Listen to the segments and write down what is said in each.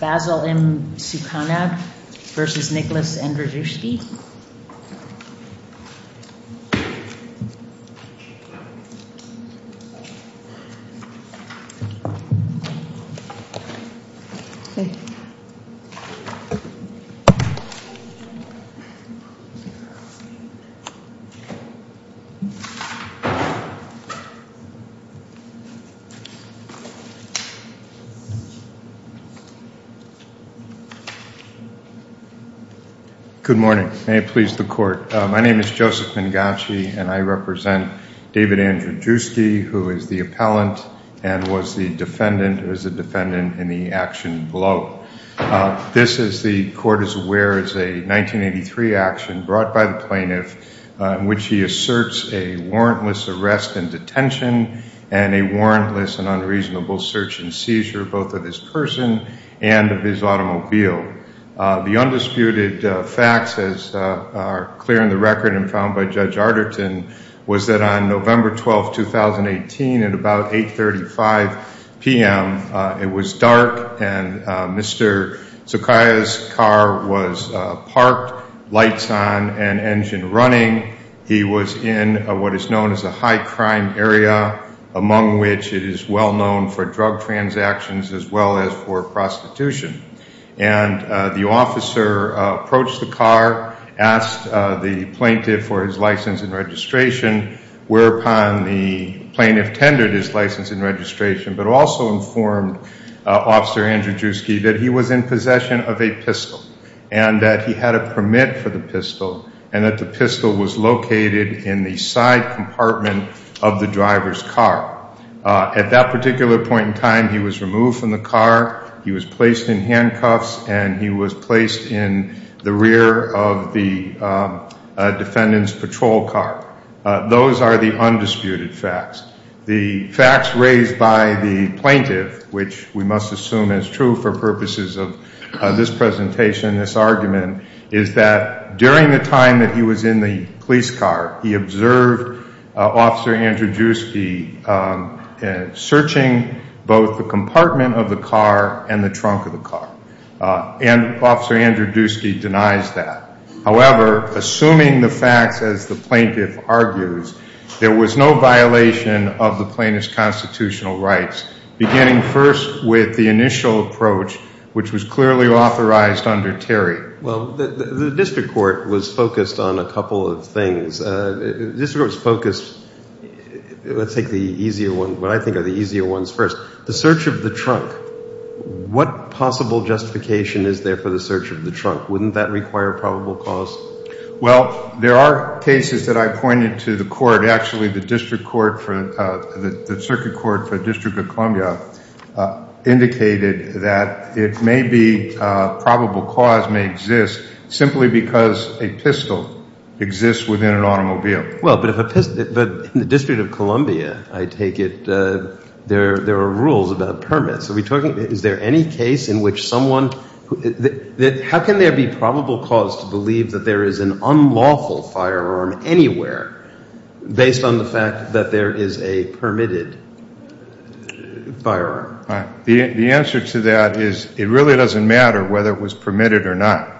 Basil M. Sukaneh v. Andrzejewski Good morning. May it please the Court. My name is Joseph Mangachi, and I represent David Andrzejewski, who is the appellant and was the defendant in the action below. This, as the Court is aware, is a 1983 action brought by the plaintiff in which he asserts a warrantless arrest and detention and a warrantless and unreasonable search and seizure, both of his person and of his automobile. The undisputed facts, as are clear in the record and found by Judge Arterton, was that on November 12, 2018, at about 8.35 p.m., it was dark and Mr. Sukaneh's car was parked, lights on, and engine running. He was in what is known as a high-crime area, among which it is well known for drug transactions as well as for prostitution. And the officer approached the car, asked the plaintiff for his license and registration, whereupon the plaintiff tendered his license and registration, but also informed Officer Andrzejewski that he was in possession of a pistol and that he had a permit for the driver's car. At that particular point in time, he was removed from the car, he was placed in handcuffs, and he was placed in the rear of the defendant's patrol car. Those are the undisputed facts. The facts raised by the plaintiff, which we must assume is true for purposes of this presentation, this argument, is that during the time that he was in the police car, he observed Officer Andrzejewski searching both the compartment of the car and the trunk of the car. And Officer Andrzejewski denies that. However, assuming the facts as the plaintiff argues, there was no violation of the plaintiff's constitutional rights, beginning first with the initial approach, which was clearly authorized under Terry. Well, the district court was focused on a couple of things. The district court was focused, let's take the easier ones, what I think are the easier ones first. The search of the trunk, what possible justification is there for the search of the trunk? Wouldn't that require probable cause? Well, there are cases that I pointed to the court, actually the district court, the circuit court for the District of Columbia indicated that it may be probable cause may exist simply because a pistol exists within an automobile. Well, but in the District of Columbia, I take it there are rules about permits. Is there any case in which someone, how can there be probable cause to believe that there is an firearm? The answer to that is it really doesn't matter whether it was permitted or not.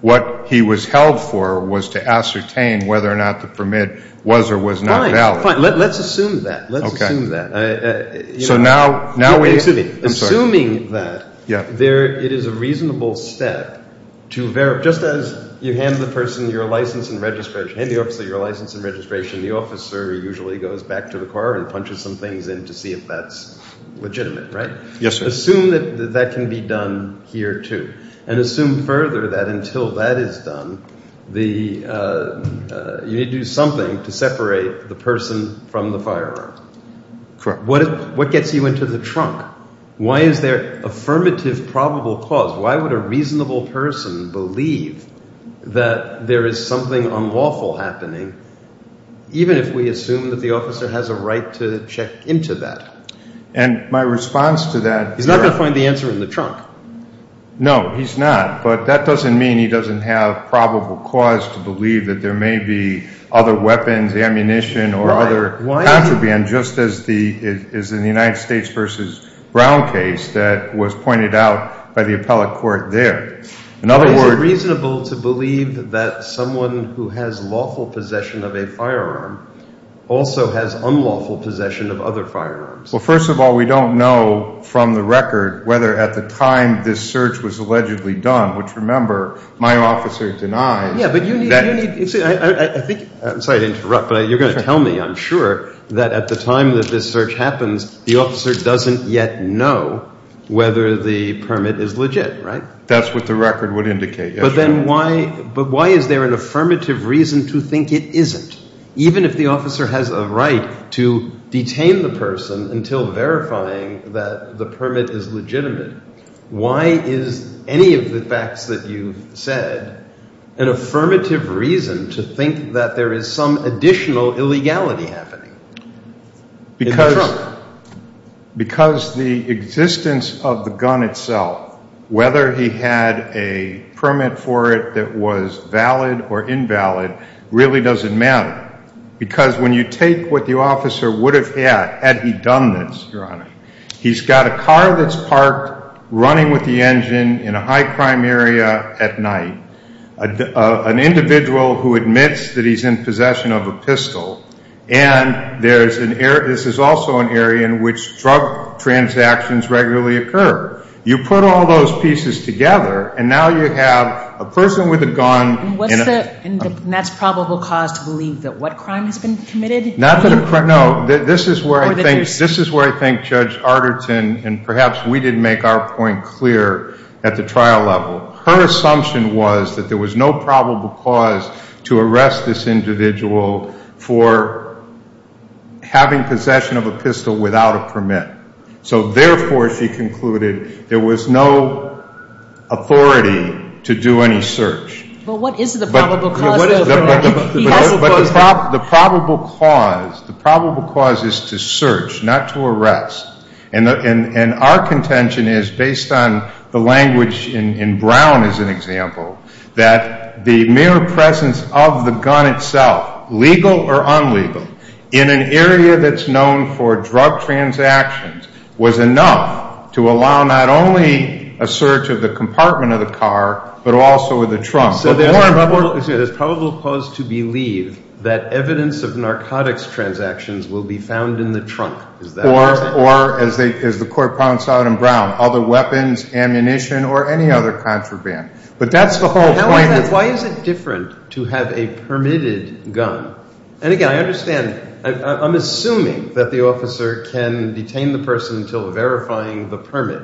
What he was held for was to ascertain whether or not the permit was or was not valid. Fine, fine. Let's assume that. Let's assume that. Okay. So now, now we... Excuse me. I'm sorry. Assuming that... Yeah. ...there, it is a reasonable step to verify, just as you hand the person your license and registration, hand the officer your license and registration, the officer usually goes back to the car and punches some things in to see if that's legitimate, right? Yes, sir. Assume that that can be done here too. And assume further that until that is done, the, you need to do something to separate the person from the firearm. Correct. What, what gets you into the trunk? Why is there affirmative probable cause? Why would a reasonable person believe that there is something unlawful happening, even if we assume that the officer has a right to check into that? And my response to that... He's not going to find the answer in the trunk. No, he's not. But that doesn't mean he doesn't have probable cause to believe that there may be other weapons, ammunition, or other contraband, just as the, as in the United States versus Brown case that was pointed out by the appellate court there. In other words... He also has unlawful possession of other firearms. Well, first of all, we don't know from the record whether at the time this search was allegedly done, which remember my officer denies... Yeah, but you need, you need, I think, I'm sorry to interrupt, but you're going to tell me, I'm sure, that at the time that this search happens, the officer doesn't yet know whether the permit is legit, right? That's what the record would indicate, yes. But then why, but why is there an affirmative reason to think it isn't? Even if the officer has a right to detain the person until verifying that the permit is legitimate, why is any of the facts that you've said an affirmative reason to think that there is some additional illegality happening in the trunk? Because the existence of the gun itself, whether he had a permit for it that was valid or invalid, really doesn't matter. Because when you take what the officer would have had had he done this, Your Honor, he's got a car that's parked running with the engine in a high-crime area at night, an individual who admits that he's in possession of a pistol, and there's an area, this is also an area in which drug transactions regularly occur. You put all those pieces together, and now you have a person with a gun in a... Has probable cause to believe that what crime has been committed? Not that a crime, no. This is where I think Judge Arterton, and perhaps we didn't make our point clear at the trial level, her assumption was that there was no probable cause to arrest this individual for having possession of a pistol without a permit. So therefore, she concluded, there was no authority to do any search. But what is the probable cause? The probable cause is to search, not to arrest. And our contention is, based on the language in Brown as an example, that the mere presence of the gun itself, legal or unlegal, in an area that's known for drug transactions was enough to allow not only a search of the compartment of the car, but also of the trunk. So there's probable cause to believe that evidence of narcotics transactions will be found in the trunk, is that what you're saying? Or as the court points out in Brown, other weapons, ammunition, or any other contraband. But that's the whole point of... Why is it different to have a permitted gun? And again, I understand, I'm assuming that the officer can detain the person until verifying the permit.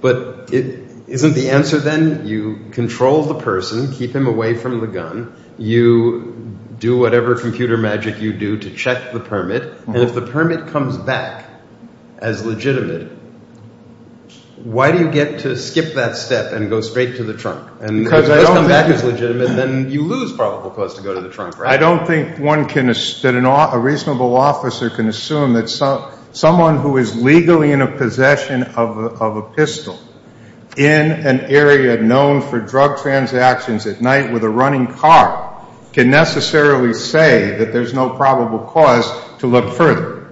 But isn't the answer then, you control the person, keep him away from the gun, you do whatever computer magic you do to check the permit, and if the permit comes back as legitimate, why do you get to skip that step and go straight to the trunk? And if it does come back as legitimate, then you lose probable cause to go to the trunk, right? I don't think that a reasonable officer can assume that someone who is legally in a possession of a pistol in an area known for drug transactions at night with a running car can necessarily say that there's no probable cause to look further.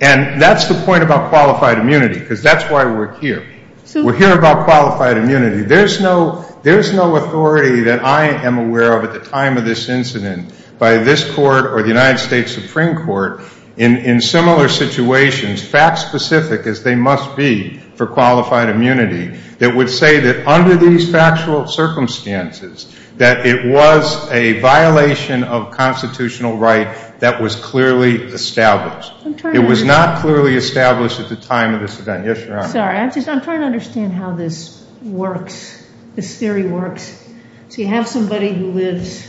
And that's the point about qualified immunity, because that's why we're here. We're here about qualified immunity. There's no authority that I am aware of at the time of this incident by this court or the United States Supreme Court in similar situations, fact-specific as they must be for qualified immunity, that would say that under these factual circumstances that it was a violation of constitutional right that was clearly established. It was not clearly established at the time of this event. Yes, Your Honor. I'm sorry. I'm just trying to understand how this works, this theory works. So you have somebody who lives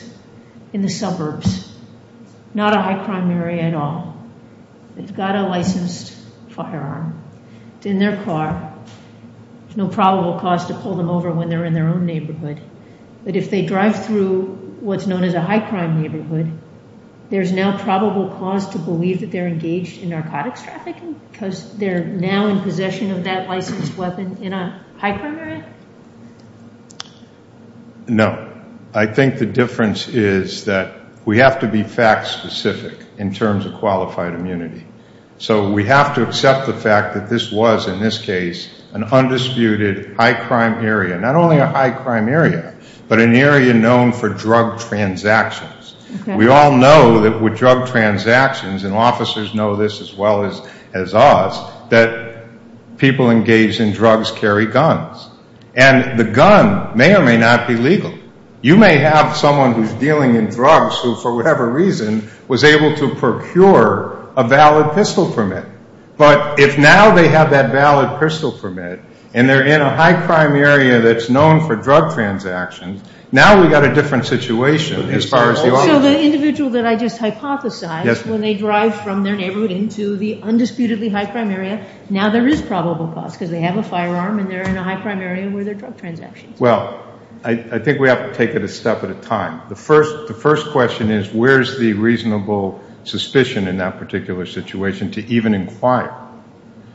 in the suburbs, not a high-crime area at all. They've got a licensed firearm. It's in their car. There's no probable cause to pull them over when they're in their own neighborhood. But if they drive through what's known as a high-crime neighborhood, there's now probable cause to believe that they're engaged in narcotics trafficking because they're now in possession of that licensed weapon in a high-crime area? No. I think the difference is that we have to be fact-specific in terms of qualified immunity. So we have to accept the fact that this was, in this case, an undisputed high-crime area, not only a high-crime area, but an area known for drug transactions. We all know that with drug transactions, and officers know this as well as us, that people engaged in drugs carry guns. And the gun may or may not be legal. You may have someone who's dealing in drugs who, for whatever reason, was able to procure a valid pistol permit. But if now they have that valid pistol permit, and they're in a high-crime area that's known for drug transactions, now we've got a different situation as far as the officer. So the individual that I just hypothesized, when they drive from their neighborhood into the undisputedly high-crime area, now there is probable cause because they have a firearm and they're in a high-crime area where there are drug transactions. Well, I think we have to take it a step at a time. The first question is, where's the reasonable suspicion in that particular situation to even inquire?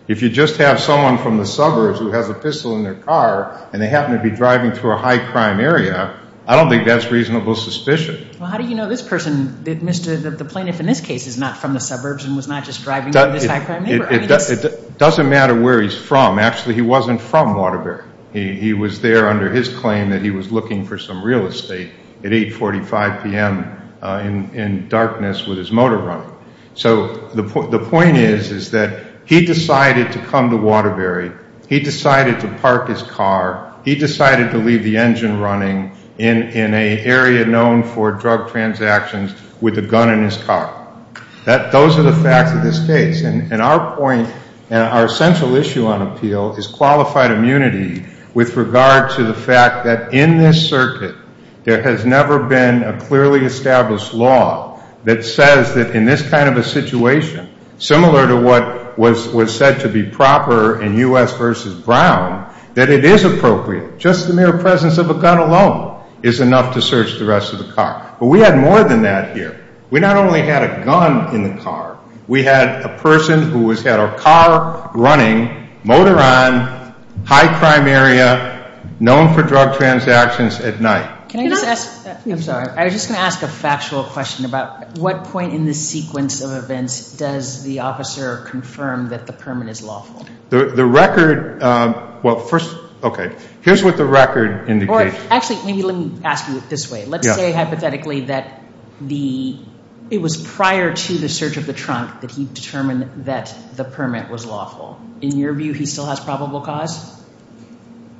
If you just have someone from the suburbs who has a pistol in their car, and they happen to be driving through a high-crime area, I don't think that's reasonable suspicion. Well, how do you know this person, the plaintiff in this case, is not from the suburbs and was not just driving through this high-crime neighborhood? It doesn't matter where he's from. Actually, he wasn't from Waterbury. He was there under his claim that he was looking for some real estate at 8.45 p.m. in darkness with his motor running. So the point is, is that he decided to come to Waterbury. He decided to park his car for drug transactions with a gun in his car. Those are the facts of this case. And our point and our central issue on appeal is qualified immunity with regard to the fact that in this circuit, there has never been a clearly established law that says that in this kind of a situation, similar to what was said to be proper in U.S. v. Brown, that it is appropriate. Just the mere presence of a gun alone is enough to search the rest of the car. But we had more than that here. We not only had a gun in the car, we had a person who has had a car running, motor on, high-crime area, known for drug transactions at night. Can I just ask, I'm sorry, I was just going to ask a factual question about what point in this sequence of events does the officer confirm that the permit is lawful? The record, well, first, okay, here's what the record indicates. Actually, maybe let me ask you it this way. Let's say hypothetically that it was prior to the search of the trunk that he determined that the permit was lawful. In your view, he still has probable cause?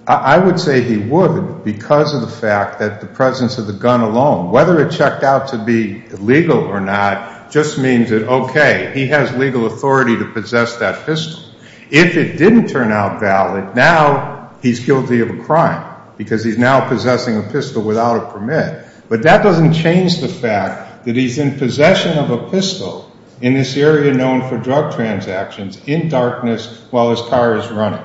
I would say he would because of the fact that the presence of the gun alone, whether it checked out to be legal or not, just means that, okay, he has legal authority to possess that pistol. If it didn't turn out valid, now he's guilty of a crime because he's now possessing a pistol without a permit. But that doesn't change the fact that he's in possession of a pistol in this area known for drug transactions in darkness while his car is running.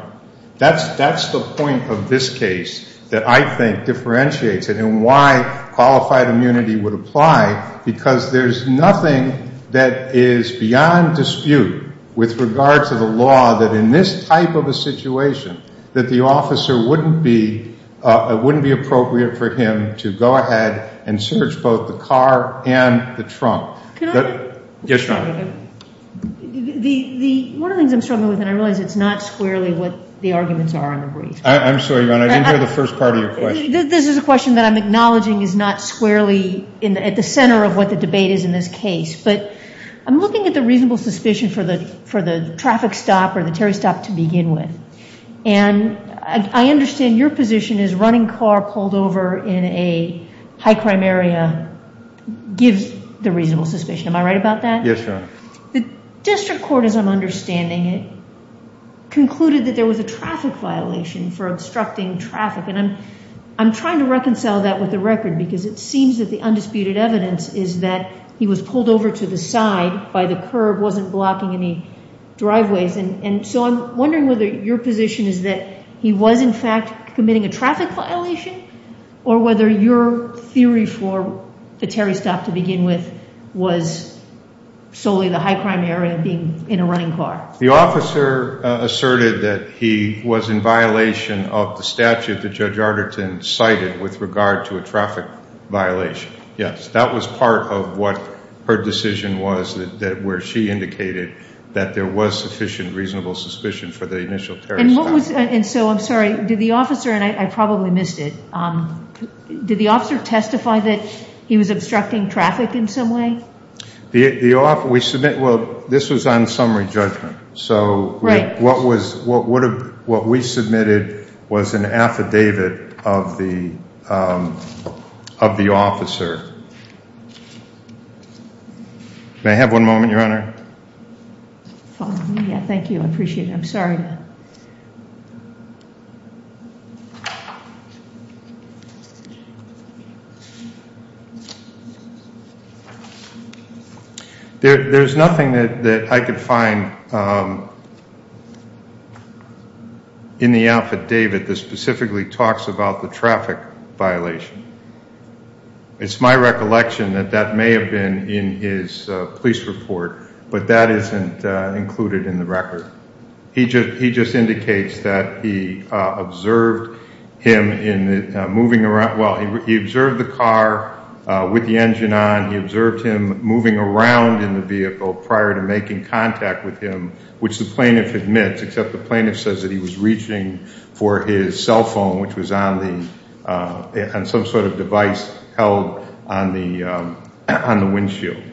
That's the point of this case that I think differentiates it and why qualified immunity would apply because there's nothing that is beyond dispute with regard to the situation that the officer wouldn't be, it wouldn't be appropriate for him to go ahead and search both the car and the trunk. Can I? Yes, Your Honor. One of the things I'm struggling with and I realize it's not squarely what the arguments are on the brief. I'm sorry, Your Honor. I didn't hear the first part of your question. This is a question that I'm acknowledging is not squarely at the center of what the debate is in this case. But I'm looking at the reasonable suspicion for the traffic stop or the Terry stop to begin with. And I understand your position is running car pulled over in a high crime area gives the reasonable suspicion. Am I right about that? Yes, Your Honor. The district court, as I'm understanding it, concluded that there was a traffic violation for obstructing traffic. And I'm trying to reconcile that with the record because it seems that the undisputed evidence is that he was pulled over to the side by the curb, wasn't blocking any driveways. And so I'm wondering whether your position is that he was in fact committing a traffic violation or whether your theory for the Terry stop to begin with was solely the high crime area being in a running car. The officer asserted that he was in violation of the statute that Judge Arderton cited with regard to a traffic violation. Yes, that was part of what her decision was that where she indicated that there was sufficient reasonable suspicion for the initial Terry stop. And so I'm sorry, did the officer, and I probably missed it, did the officer testify that he was obstructing traffic in some way? We submit, well, this was on summary judgment. So what we submitted was an affidavit of the officer. May I have one moment, Your Honor? Fine, yeah, thank you. I appreciate it. I'm sorry. There's nothing that I could find in the affidavit that specifically talks about the traffic violation. It's my recollection that that may have been in his police report, but that isn't included in the record. He just indicates that he observed him in the moving around, well, he observed the car with the engine on. He observed him moving around in the vehicle prior to making contact with him, which the plaintiff admits, except the plaintiff says that he was reaching for his cell phone, which was on the, on some sort of device held on the windshield.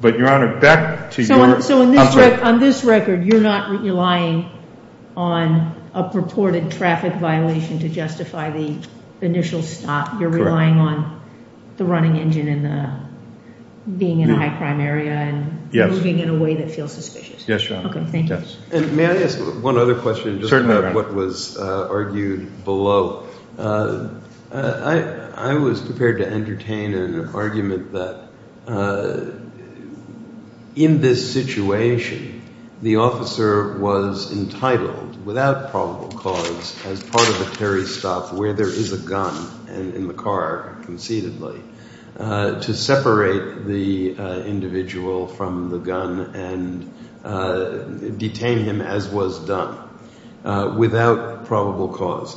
But, Your Honor, back to your... So on this record, you're not relying on a purported traffic violation to justify the initial stop. You're relying on the running engine and the being in a high crime area and moving in a way that feels suspicious. Yes, Your Honor. Okay, thank you. And may I ask one other question, just about what was argued below? I was prepared to entertain an argument that in this situation, the officer was entitled, without probable cause, as part of a Terry stop where there is a gun in the car, conceitedly, to separate the individual from the gun and detain him as was done, without probable cause.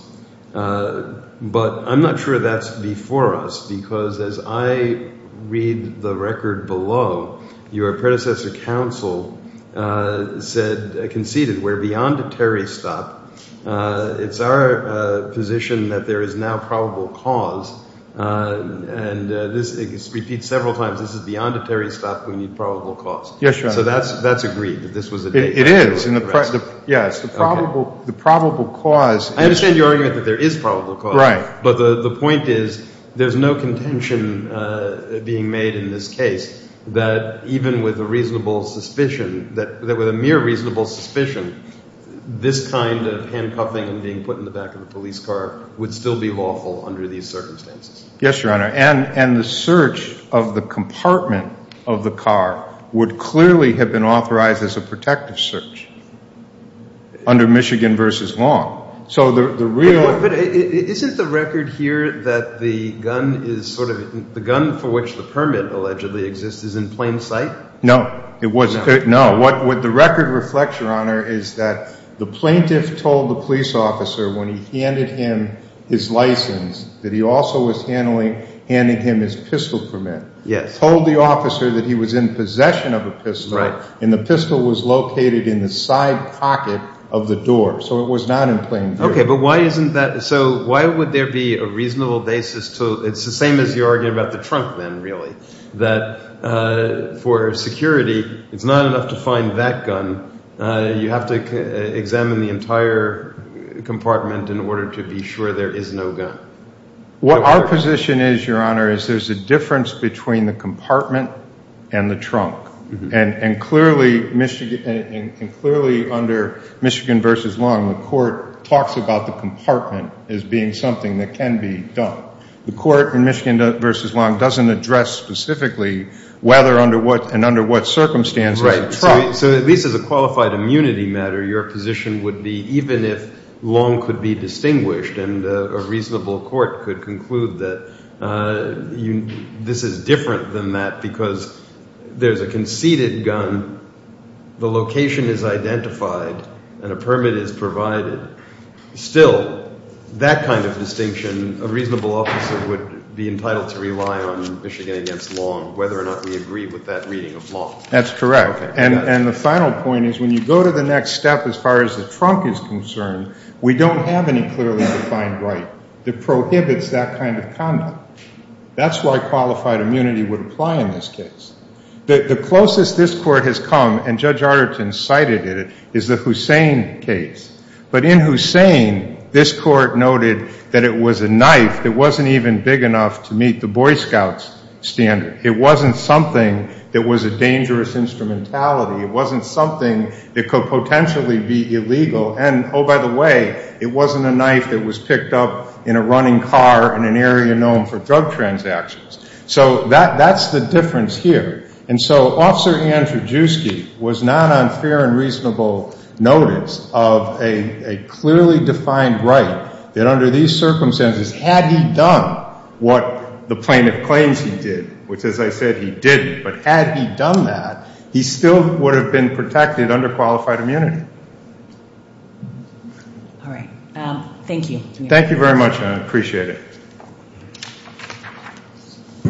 But I'm not sure that's before us, because as I read the record below, your predecessor counsel said, conceited, we're beyond a Terry stop. It's our position that there is now probable cause, and this is repeated Yes, Your Honor. So that's agreed, that this was a... It is. Yes, the probable cause... I understand your argument that there is probable cause. Right. But the point is, there's no contention being made in this case that even with a reasonable suspicion, that with a mere reasonable suspicion, this kind of handcuffing and being put in the back of a police car would still be lawful under these circumstances. Yes, Your Honor. And the search of the compartment of the car would clearly have been authorized as a protective search under Michigan v. Long. So the real... But isn't the record here that the gun is sort of, the gun for which the permit allegedly exists is in plain sight? No, it wasn't. No. What the record reflects, Your Honor, is that the plaintiff told the officer that he was in possession of a pistol, and the pistol was located in the side pocket of the door. So it was not in plain view. Okay, but why isn't that... So why would there be a reasonable basis to... It's the same as your argument about the trunk then, really. That for security, it's not enough to find that gun. You have to examine the entire compartment in order to be sure there is no gun. What our position is, Your Honor, is there is a difference between the compartment and the trunk. And clearly under Michigan v. Long, the court talks about the compartment as being something that can be done. The court in Michigan v. Long doesn't address specifically whether and under what circumstances the trunk... Right. So at least as a qualified immunity matter, your position would be even if Long could be distinguished and a reasonable court could conclude that this is different than that because there's a conceded gun, the location is identified, and a permit is provided. Still, that kind of distinction, a reasonable officer would be entitled to rely on Michigan v. Long, whether or not we agree with that reading of Long. That's correct. And the final point is when you go to the next step as far as the trunk is concerned, we don't have any clearly defined right that prohibits that kind of conduct. That's why qualified immunity would apply in this case. The closest this court has come, and Judge Arderton cited it, is the Hussein case. But in Hussein, this court noted that it was a knife that wasn't even big enough to meet the Boy Scouts standard. It wasn't something that was a dangerous instrumentality. It wasn't something that could potentially be illegal. And, oh, by the way, it wasn't a knife that was picked up in a running car in an area known for drug transactions. So that's the difference here. And so Officer Andrzejewski was not on fair and reasonable notice of a clearly defined right that under these circumstances, had he done what the plaintiff claims he did, which, he would have been protected under qualified immunity. All right. Thank you. Thank you very much, and I appreciate it.